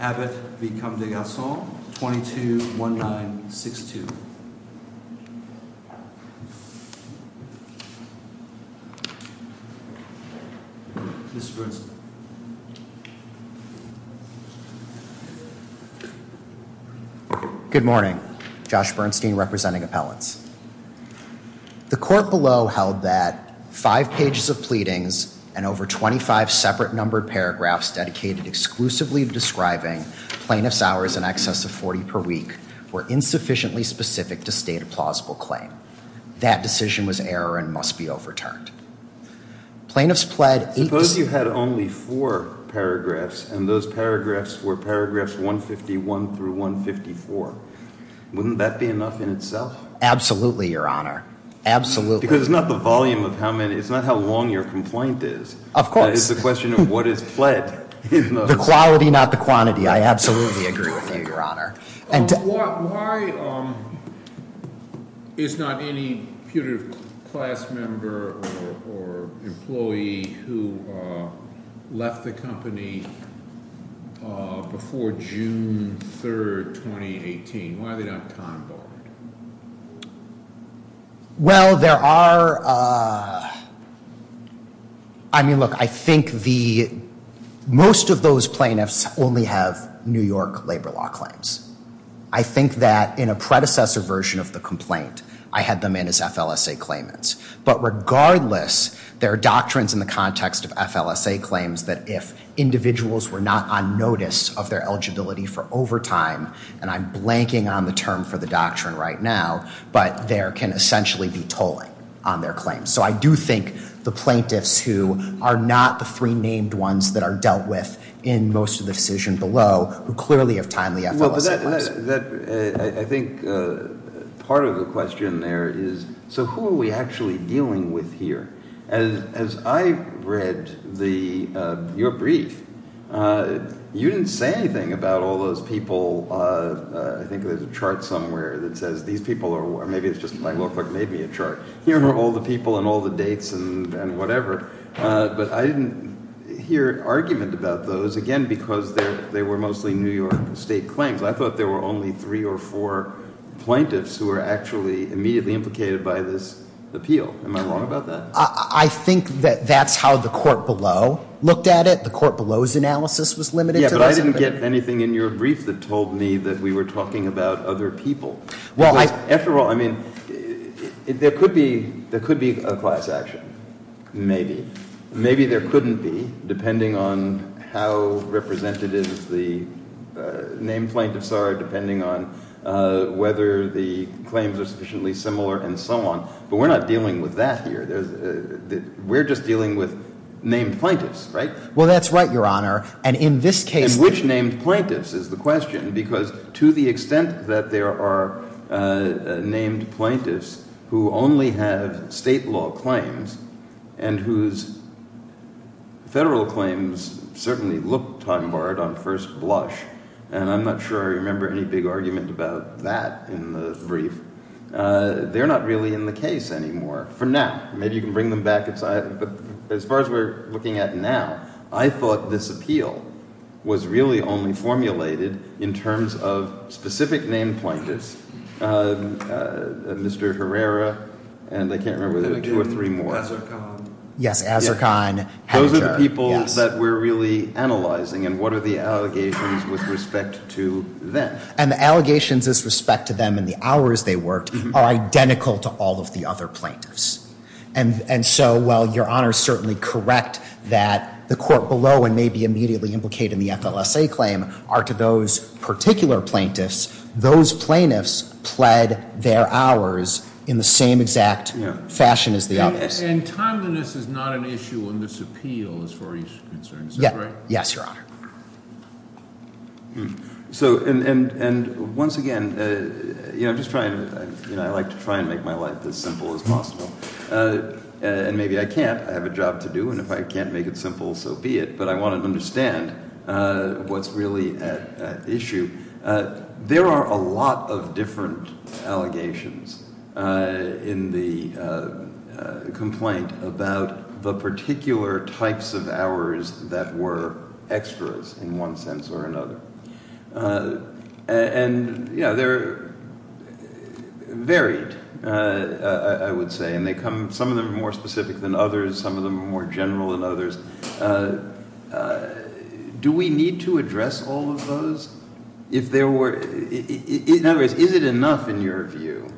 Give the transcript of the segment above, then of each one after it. Abbott v. Comme Des Garcons, 22-1962. Good morning, Josh Bernstein representing appellants. The court below held that five pages of pleadings and over 25 separate numbered paragraphs dedicated exclusively describing plaintiff's hours in excess of 40 per week were insufficiently specific to state a plausible claim. That decision was error and must be overturned. Plaintiffs pledged... Suppose you had only four paragraphs and those paragraphs were paragraphs 151 through 154. Wouldn't that be enough in itself? Absolutely, your honor. Absolutely. Because it's not the volume of how many, it's not how long your complaint is. Of course. It's the question of what is the quality, not the quantity. I absolutely agree with you, your honor. Why is not any putative class member or employee who left the company before June 3rd, 2018? Why are they not time-bombed? Well, there are... I mean, look, I think most of those plaintiffs only have New York labor law claims. I think that in a predecessor version of the complaint, I had them in as FLSA claimants. But regardless, there are doctrines in the context of FLSA claims that if individuals were not on notice of their right now, but there can essentially be tolling on their claims. So I do think the plaintiffs who are not the three named ones that are dealt with in most of the decision below, who clearly have timely FLSA claims. I think part of the question there is, so who are we actually dealing with here? As I read your brief, you didn't say anything about all those people... I think there's a chart somewhere that says these people are... maybe it's just my law clerk made me a chart. Here are all the people and all the dates and whatever. But I didn't hear an argument about those, again, because they were mostly New York state claims. I thought there were only three or four plaintiffs who were actually immediately implicated by this appeal. Am I wrong about that? I think that that's how the court below looked at it. The court below's analysis was limited. Yeah, but I didn't get anything in your brief that told me that we were talking about other people. Well, I... After all, I mean, there could be a class action. Maybe. Maybe there couldn't be, depending on how representative the named plaintiffs are, depending on whether the claims are sufficiently similar and so on. But we're not dealing with that here. We're just dealing with named plaintiffs, right? Well, that's right, Your Honor. And in this case... And which named plaintiffs is the case? There are named plaintiffs who only have state law claims and whose federal claims certainly look time-barred on first blush. And I'm not sure I remember any big argument about that in the brief. They're not really in the case anymore for now. Maybe you can bring them back. But as far as we're looking at now, I thought this appeal was really only formulated in terms of specific named plaintiffs. Mr. Herrera, and I can't remember if there are two or three more. Yes, Azarkan. Those are the people that we're really analyzing. And what are the allegations with respect to them? And the allegations with respect to them and the hours they worked are identical to all of the other plaintiffs. And so while Your Honor is certainly correct that the court below and may be immediately implicated in the FLSA claim are to those particular plaintiffs, those plaintiffs pled their hours in the same exact fashion as the others. And timeliness is not an issue in this appeal as far as you're concerned, is that right? Yes, Your Honor. So, and once again, you know, I like to try and make my life as simple as possible. And maybe I can't. I have a job to do. And if I can't make it simple, so be it. But I want to understand what's really at issue. There are a lot of different allegations in the complaint about the particular types of hours that were extras in one sense or another. And you know, they're varied, I would say. And they come, some of them are more specific than others, some of them are more general than others. Do we need to address all of those? If there were, in other words, is it enough in your view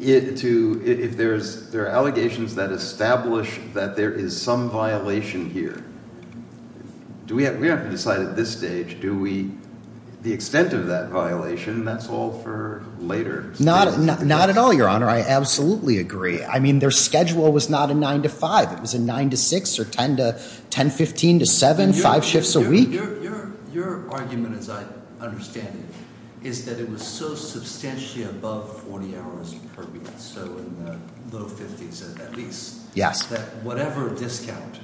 to, if there are allegations that establish that there is some violation here, do we have to decide at this stage, do we, the extent of that violation, that's all for later. Not at all, Your Honor. I absolutely agree. I mean, their schedule was not a 9 to 5. It was a 9 to 6 or 10 to 10, 15 to 7, 5 shifts a week. Your argument, as I understand it, is that it was so substantially above 40 hours per week, so in the low 50s at least, that whatever discount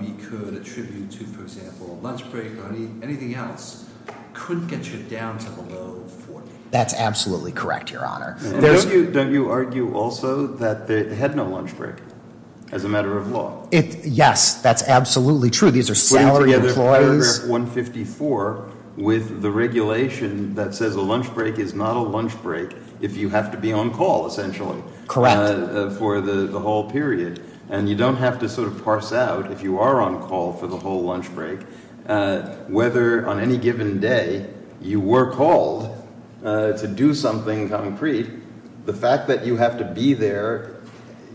we could attribute to, for example, a lunch break or anything else, couldn't get you down to below 40. That's absolutely correct, Your Honor. Don't you argue also that they had no lunch break, as a matter of law? Yes, that's absolutely true. These are salary employees. In paragraph 154, with the regulation that says a lunch break is not a lunch break if you have to be on call, essentially, for the whole period, and you don't have to sort of parse out, if you are on call for the whole lunch break, whether on any given day you were called to do something concrete, the fact that you have to be there,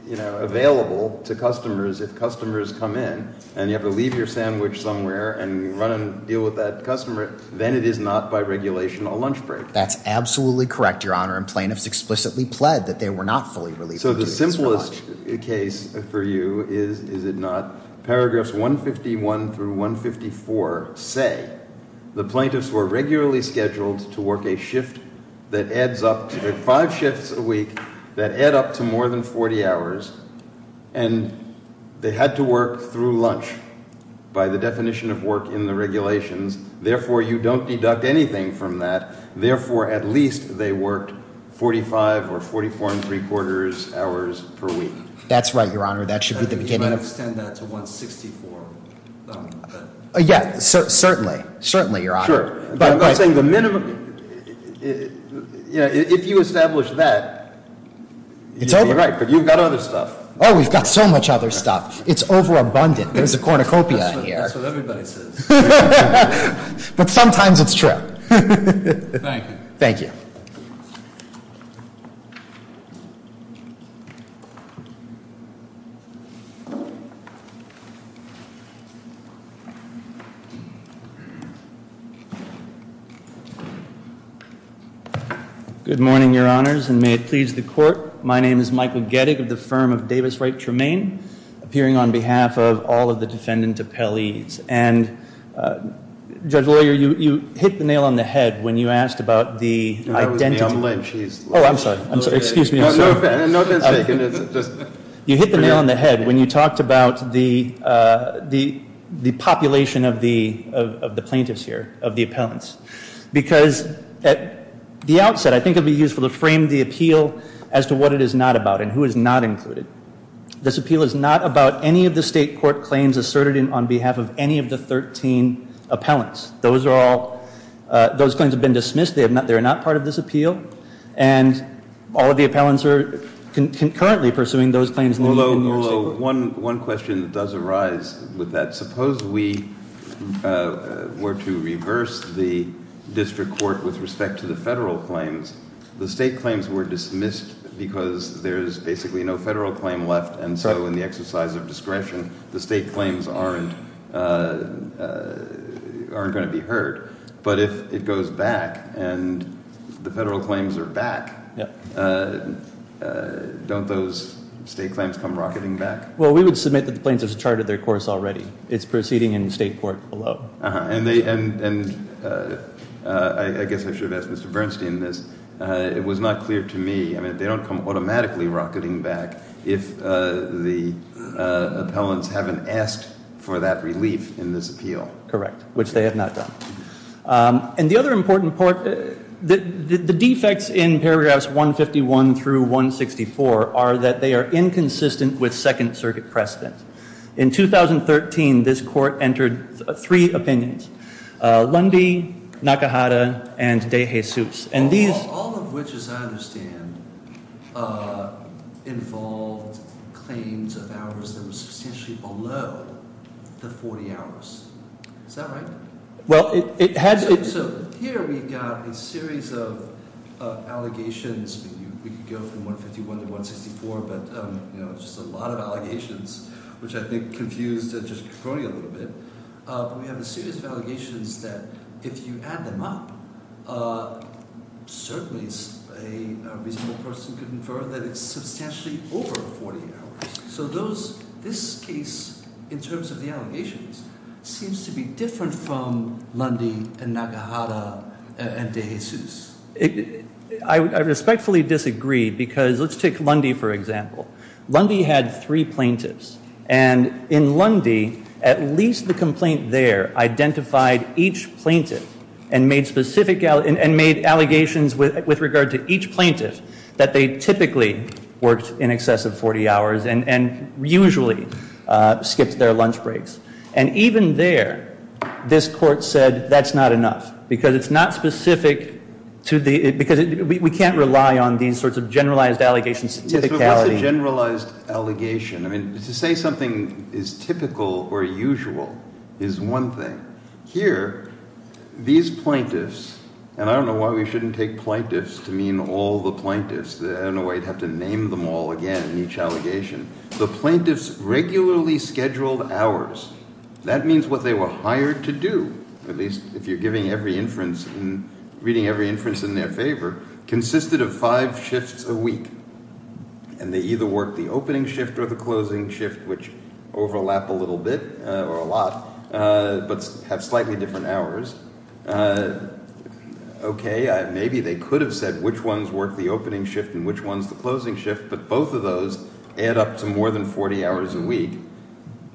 you know, available to customers, if customers come in, and you have to leave your sandwich somewhere and run and deal with that customer, then it is not, by regulation, a lunch break. That's absolutely correct, Your Honor, and plaintiffs explicitly pled that they were not fully relieved of duties for lunch. So the simplest case for you is, is it not, paragraphs 151 through 154 say the plaintiffs were regularly scheduled to work a shift that adds up to five shifts a week that add up to more than 40 hours, and they had to work through lunch, by the definition of work in the regulations. Therefore, you don't deduct anything from that. Therefore, at least they worked 45 or 44 and three quarters hours per week. That's right, Your Honor. That should be the beginning. You might extend that to 164. Yeah, certainly. Certainly, Your Honor. Sure. But I'm not saying the minimum, you know, if you establish that, you'd be right, but you've got other stuff. Oh, we've got so much other stuff. It's overabundant. There's a cornucopia here. That's what everybody says. But sometimes it's true. Thank you. Thank you. Good morning, Your Honors, and may it please the Court. My name is Michael Gettig of the firm of Davis Wright Tremaine, appearing on behalf of all of the defendant's appellees. And, Judge Lawyer, you hit the nail on the head when you asked about the identity. That was Miam Lynch. Oh, I'm sorry. Excuse me. No offense taken. You hit the nail on the head when you talked about the population of the plaintiffs here, of the appellants. Because at the outset, I think it would be useful to frame the appeal as to what it is not about and who is not included. This appeal is not about any of the state court claims asserted on behalf of any of the 13 appellants. Those are all, those claims have been dismissed. They are not part of this appeal. And all of the appellants are concurrently pursuing those claims. Although, one question does arise with that. Suppose we were to reverse the district court with respect to the federal claims. The state claims were dismissed because there is basically no federal claim left. And so in the exercise of discretion, the state claims aren't going to be heard. But if it goes back and the federal claims are back, don't those state claims come rocketing back? Well, we would submit that the plaintiffs have charted their course already. It's proceeding in the state court below. And I guess I should ask Mr. Bernstein this. It was not clear to me, I mean, they don't come automatically rocketing back if the appellants haven't asked for that relief in this appeal. Correct. Which they have not done. And the other important part, the defects in paragraphs 151 through 164 are that they are inconsistent with Second Circuit precedent. In 2013, this court entered three opinions. Lundy, Nakahara, and DeJesus. All of which, as I understand, involved claims of hours that were substantially below the 40 hours. Is that right? Well, it had to be. So here we've got a series of allegations. We could go from 151 to 164, but it's just a lot of allegations, which I think confused District Court a little bit. We have a series of allegations that if you add them up, certainly a reasonable person could infer that it's substantially over 40 hours. So this case, in terms of the allegations, seems to be different from Lundy and Nakahara and DeJesus. I respectfully disagree, because let's take Lundy for example. Lundy had three plaintiffs. And in Lundy, at least the complaint there identified each plaintiff and made allegations with regard to each plaintiff, that they typically worked in excess of 40 hours and usually skipped their lunch breaks. And even there, this court said, that's not enough. Because it's not specific to the, because we can't rely on these sorts of generalized allegations. Yes, but what's a generalized allegation? I mean, to say something is typical or usual is one thing. Here, these plaintiffs, and I don't know why we shouldn't take plaintiffs to mean all the plaintiffs. I don't know why you'd have to name them all again in each allegation. The plaintiffs regularly scheduled hours. That means what they were hired to do, at least if you're giving every inference and reading every inference in their favor, consisted of five shifts a week. And they either worked the opening shift or the closing shift, which overlap a little bit, or a lot, but have slightly different hours. Okay, maybe they could have said which ones work the opening shift and which ones the closing shift, but both of those add up to more than 40 hours a week.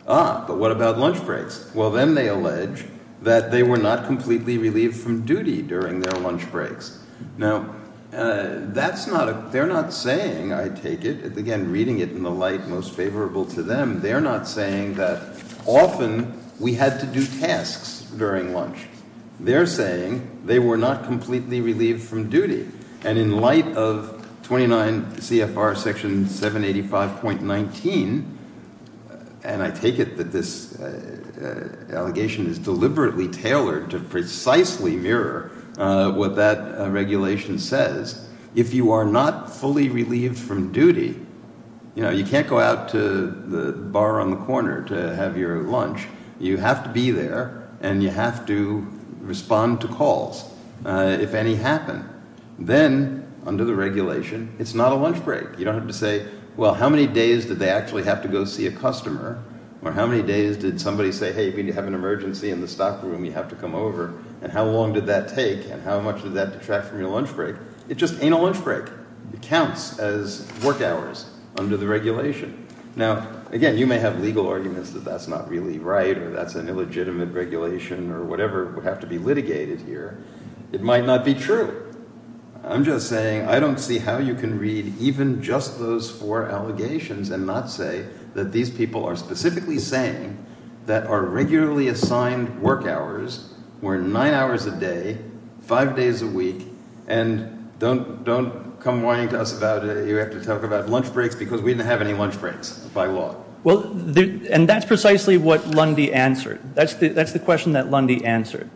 Ah, but what about lunch breaks? Well, then they allege that they were not completely relieved from duty during their lunch breaks. Now, that's not a, they're not saying, I take it, again, reading it in the light most favorable to them, they're not saying that often we had to do tasks during lunch. They're saying they were not completely relieved from duty. And in light of 29 CFR Section 785.19, and I take it that this allegation is deliberately tailored to precisely mirror what that regulation says, if you are not fully relieved from duty, you know, you can't go out to the bar on the corner to have your lunch. You have to be there, and you have to respond to calls, if any happen. Then, under the regulation, it's not a lunch break. You don't have to say, well, how many days did they actually have to go see a customer, or how many days did somebody say, hey, if you need to have an emergency in the stock room, you have to come over, and how long did that take, and how much did that detract from your lunch break? It just ain't a lunch break. It counts as work hours under the regulation. Now, again, you may have legal arguments that that's not really right, or that's an illegitimate regulation, or whatever would have to be litigated here. It might not be true. I'm just saying I don't see how you can read even just those four allegations and not say that these people are specifically saying that our regularly assigned work hours were nine hours a day, five days a week, and don't come whining to us about it. You have to talk about lunch breaks, because we didn't have any lunch breaks by law. Well, and that's precisely what Lundy answered. That's the question that Lundy answered,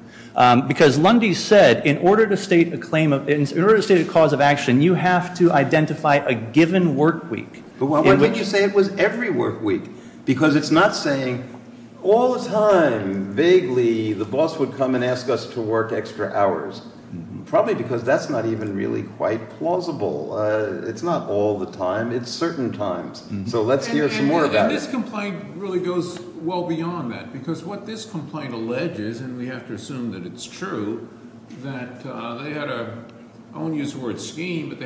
because Lundy said, in order to state a cause of action, you have to identify a given work week. But why didn't you say it was every work week? Because it's not saying all the time, vaguely, the boss would come and ask us to work extra hours, probably because that's not even really quite plausible. It's not all the time. It's certain times. So let's hear some more about it. And this complaint really goes well beyond that, because what this complaint alleges, and we have to assume that it's true, that they had a – I won't use the word scheme, when,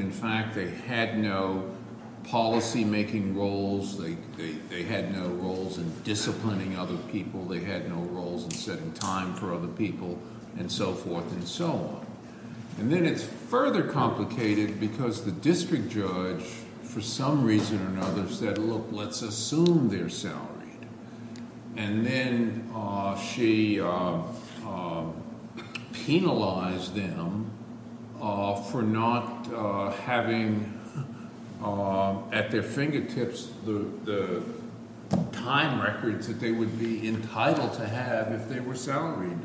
in fact, they had no policymaking roles. They had no roles in disciplining other people. They had no roles in setting time for other people and so forth and so on. And then it's further complicated because the district judge, for some reason or another, said, look, let's assume they're salaried. And then she penalized them for not having at their fingertips the time records that they would be entitled to have if they were salaried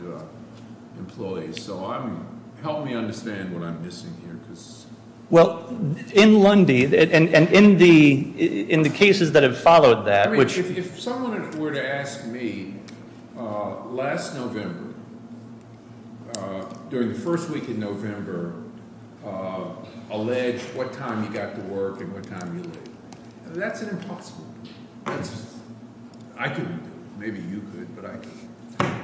employees. So help me understand what I'm missing here. Well, in Lundy and in the cases that have followed that, which – if someone were to ask me, last November, during the first week in November, alleged what time you got to work and what time you left, that's an impossible – I could – maybe you could, but I can't.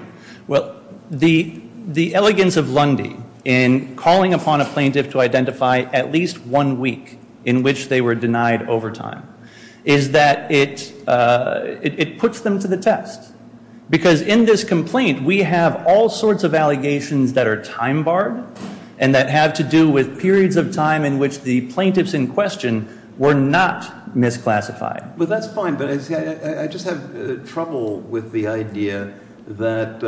Well, the elegance of Lundy in calling upon a plaintiff to identify at least one week in which they were denied overtime is that it puts them to the test. Because in this complaint, we have all sorts of allegations that are time barred and that have to do with periods of time in which the plaintiffs in question were not misclassified. Well, that's fine, but I just have trouble with the idea that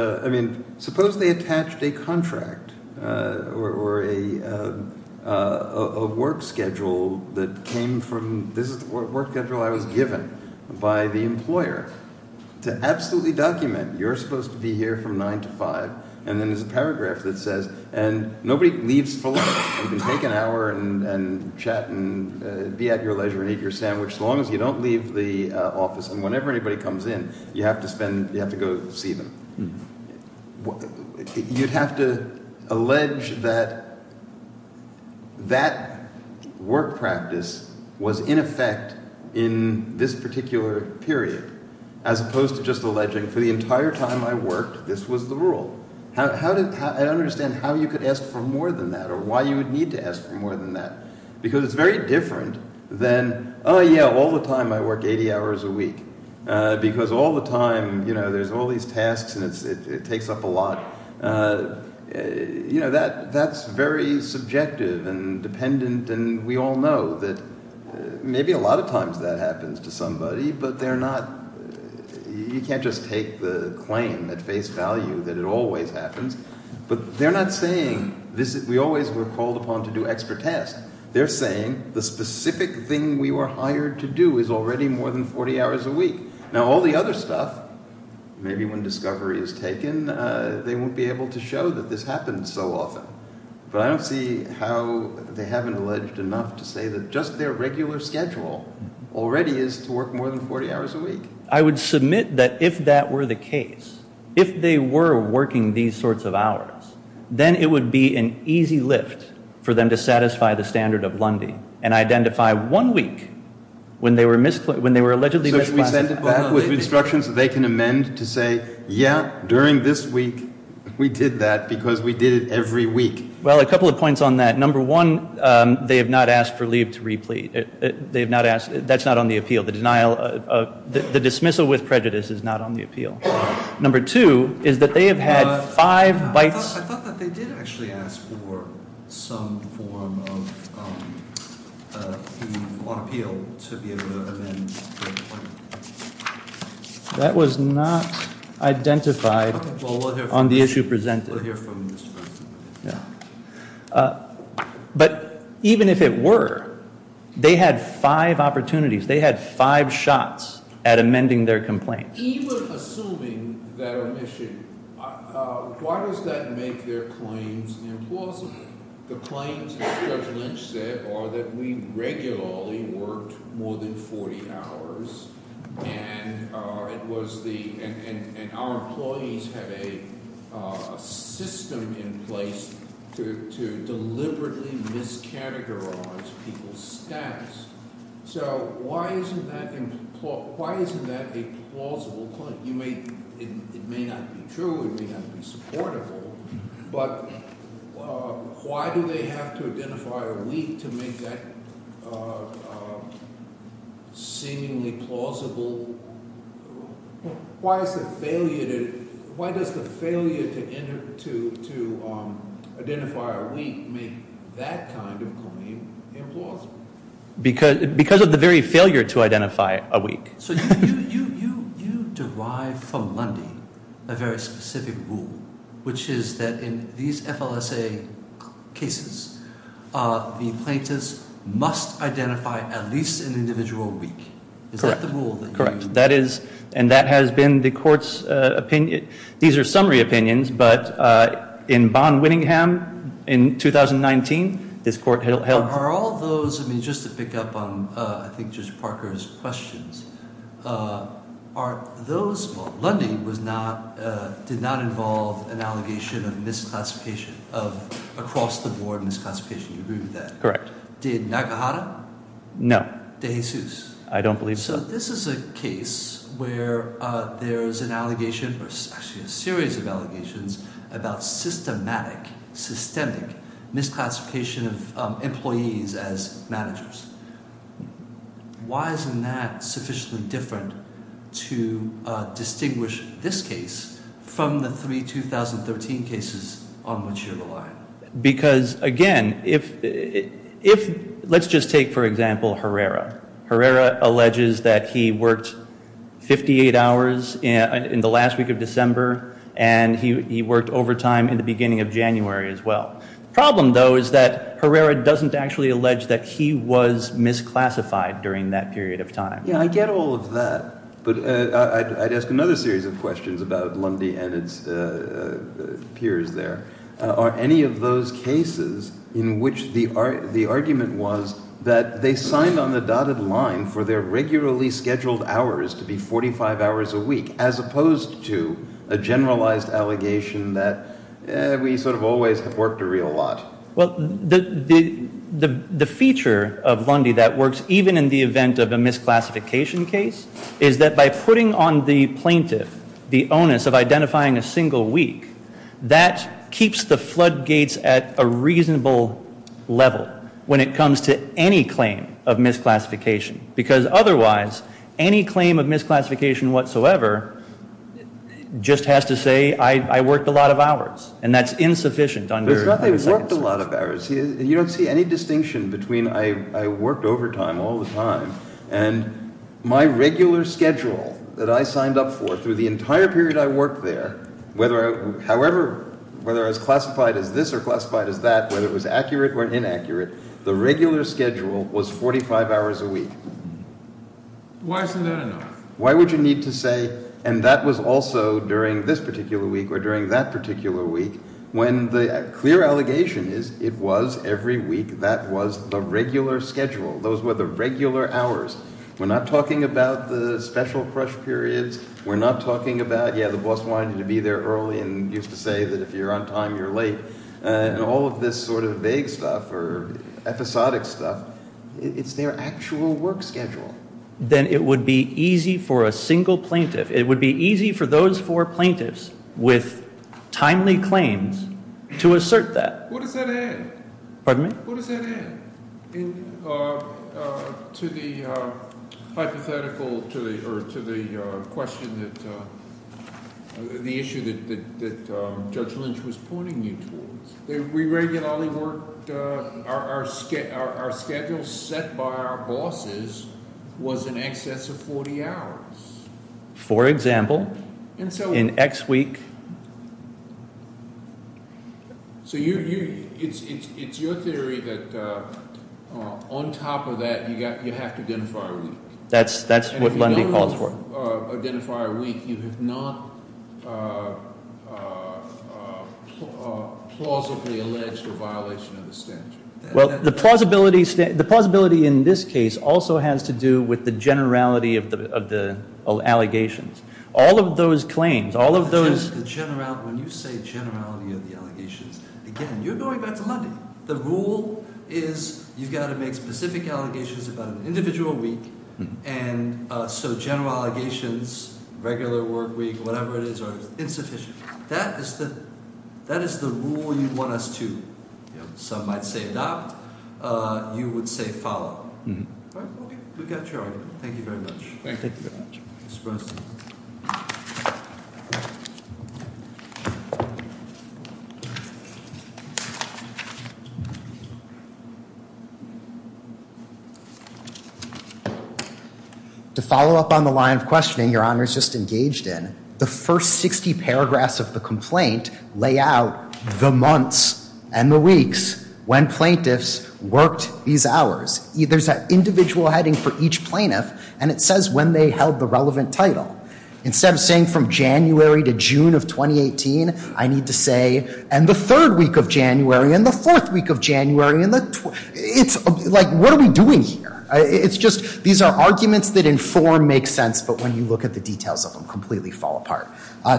– or a work schedule that came from – this is the work schedule I was given by the employer to absolutely document. You're supposed to be here from 9 to 5, and then there's a paragraph that says – and nobody leaves full – you can take an hour and chat and be at your leisure and eat your sandwich as long as you don't leave the office. And whenever anybody comes in, you have to spend – you have to go see them. You'd have to allege that that work practice was in effect in this particular period as opposed to just alleging for the entire time I worked, this was the rule. How did – I don't understand how you could ask for more than that or why you would need to ask for more than that. Because it's very different than, oh, yeah, all the time I work 80 hours a week. Because all the time there's all these tasks and it takes up a lot. That's very subjective and dependent, and we all know that maybe a lot of times that happens to somebody, but they're not – you can't just take the claim at face value that it always happens. But they're not saying this – we always were called upon to do extra tasks. They're saying the specific thing we were hired to do is already more than 40 hours a week. Now, all the other stuff, maybe when discovery is taken, they won't be able to show that this happens so often. But I don't see how they haven't alleged enough to say that just their regular schedule already is to work more than 40 hours a week. I would submit that if that were the case, if they were working these sorts of hours, then it would be an easy lift for them to satisfy the standard of Lundy and identify one week when they were allegedly misclassified. So should we send it back with instructions that they can amend to say, yeah, during this week we did that because we did it every week? Well, a couple of points on that. Number one, they have not asked for leave to replete. They have not asked – that's not on the appeal. The dismissal with prejudice is not on the appeal. Number two is that they have had five bites. I thought that they did actually ask for some form of leave on appeal to be able to amend the complaint. That was not identified on the issue presented. We'll hear from Mr. President. But even if it were, they had five opportunities. They had five shots at amending their complaint. Even assuming that omission, why does that make their claims implausible? The claims that Judge Lynch said are that we regularly worked more than 40 hours, and it was the – and our employees have a system in place to deliberately miscategorize people's status. So why isn't that – why isn't that a plausible claim? You may – it may not be true. It may not be supportable. But why do they have to identify a week to make that seemingly plausible? Why is the failure to – why does the failure to identify a week make that kind of claim implausible? Because of the very failure to identify a week. So you derive from Lundy a very specific rule, which is that in these FLSA cases, the plaintiffs must identify at least an individual week. Correct. Is that the rule that you use? Correct. That is – and that has been the court's opinion. These are summary opinions, but in Bonn-Winningham in 2019, this court held – Are all those – I mean, just to pick up on, I think, Judge Parker's questions. Are those – well, Lundy was not – did not involve an allegation of misclassification, of across-the-board misclassification. Do you agree with that? Correct. Did Nakahara? No. De Jesus? I don't believe so. So this is a case where there's an allegation, or actually a series of allegations, about systematic, systemic misclassification of employees as managers. Why isn't that sufficiently different to distinguish this case from the three 2013 cases on which you're relying? Because, again, if – let's just take, for example, Herrera. Herrera alleges that he worked 58 hours in the last week of December, and he worked overtime in the beginning of January as well. The problem, though, is that Herrera doesn't actually allege that he was misclassified during that period of time. Yeah, I get all of that, but I'd ask another series of questions about Lundy and its peers there. Are any of those cases in which the argument was that they signed on the dotted line for their regularly scheduled hours to be 45 hours a week, as opposed to a generalized allegation that we sort of always have worked a real lot? Well, the feature of Lundy that works even in the event of a misclassification case is that by putting on the plaintiff the onus of identifying a single week, that keeps the floodgates at a reasonable level when it comes to any claim of misclassification, because otherwise any claim of misclassification whatsoever just has to say I worked a lot of hours, and that's insufficient under the statute. It's not that he worked a lot of hours. You don't see any distinction between I worked overtime all the time and my regular schedule that I signed up for through the entire period I worked there, however, whether as classified as this or classified as that, whether it was accurate or inaccurate, the regular schedule was 45 hours a week. Why isn't that enough? Why would you need to say, and that was also during this particular week or during that particular week, when the clear allegation is it was every week that was the regular schedule. Those were the regular hours. We're not talking about the special crush periods. We're not talking about, yeah, the boss wanted you to be there early and used to say that if you're on time, you're late, and all of this sort of vague stuff or episodic stuff. It's their actual work schedule. Then it would be easy for a single plaintiff. It would be easy for those four plaintiffs with timely claims to assert that. What does that add? Pardon me? The issue that Judge Lynch was pointing you towards. We regularly worked. Our schedule set by our bosses was in excess of 40 hours. For example, in X week. It's your theory that on top of that, you have to identify a week. That's what Lundy calls for. You have to identify a week. You have not plausibly alleged a violation of the standard. The plausibility in this case also has to do with the generality of the allegations. All of those claims, all of those— When you say generality of the allegations, again, you're going back to Lundy. The rule is you've got to make specific allegations about an individual week, and so general allegations, regular work week, whatever it is, are insufficient. That is the rule you want us to, some might say, adopt. You would say follow. We've got your argument. Thank you very much. Thank you very much. Mr. Brosnan. To follow up on the line of questioning Your Honor's just engaged in, the first 60 paragraphs of the complaint lay out the months and the weeks when plaintiffs worked these hours. There's an individual heading for each plaintiff, and it says when they held the relevant title. Instead of saying from January to June of 2018, I need to say, and the third week of January, and the fourth week of January, and the— It's like, what are we doing here? It's just, these are arguments that in form make sense, but when you look at the details of them, completely fall apart.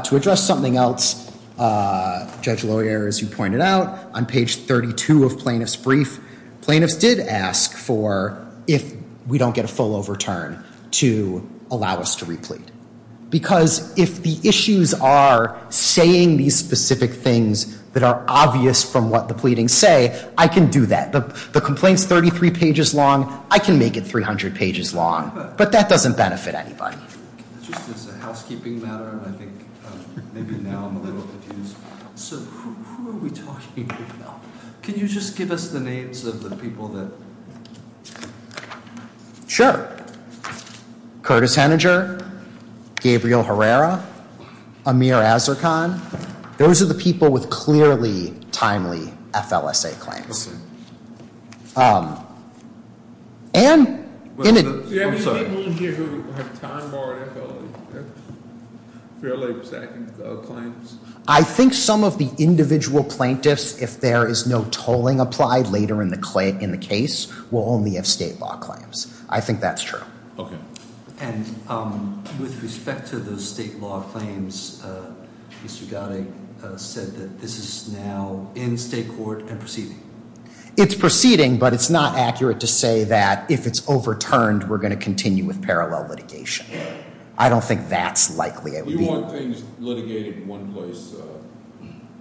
To address something else, Judge Loyer, as you pointed out, on page 32 of Plaintiff's Brief, plaintiffs did ask for, if we don't get a full overturn, to allow us to replete. Because if the issues are saying these specific things that are obvious from what the pleadings say, I can do that. The complaint's 33 pages long. I can make it 300 pages long. But that doesn't benefit anybody. Just as a housekeeping matter, I think maybe now I'm a little confused. So who are we talking about? Can you just give us the names of the people that— Sure. Curtis Henninger, Gabriel Herrera, Amir Azarkan. Those are the people with clearly timely FLSA claims. Okay. And— Do you have any of the men here who have time-borrowed FLSA claims? I think some of the individual plaintiffs, if there is no tolling applied later in the case, will only have state law claims. I think that's true. Okay. And with respect to those state law claims, Mr. Gotti said that this is now in state court and proceeding. It's proceeding, but it's not accurate to say that if it's overturned, we're going to continue with parallel litigation. I don't think that's likely. You want things litigated in one place.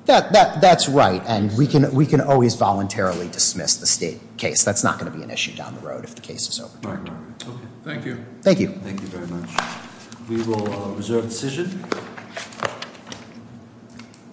That's right. And we can always voluntarily dismiss the state case. That's not going to be an issue down the road if the case is overturned. Okay. Thank you. Thank you. Thank you very much. We will reserve the decision.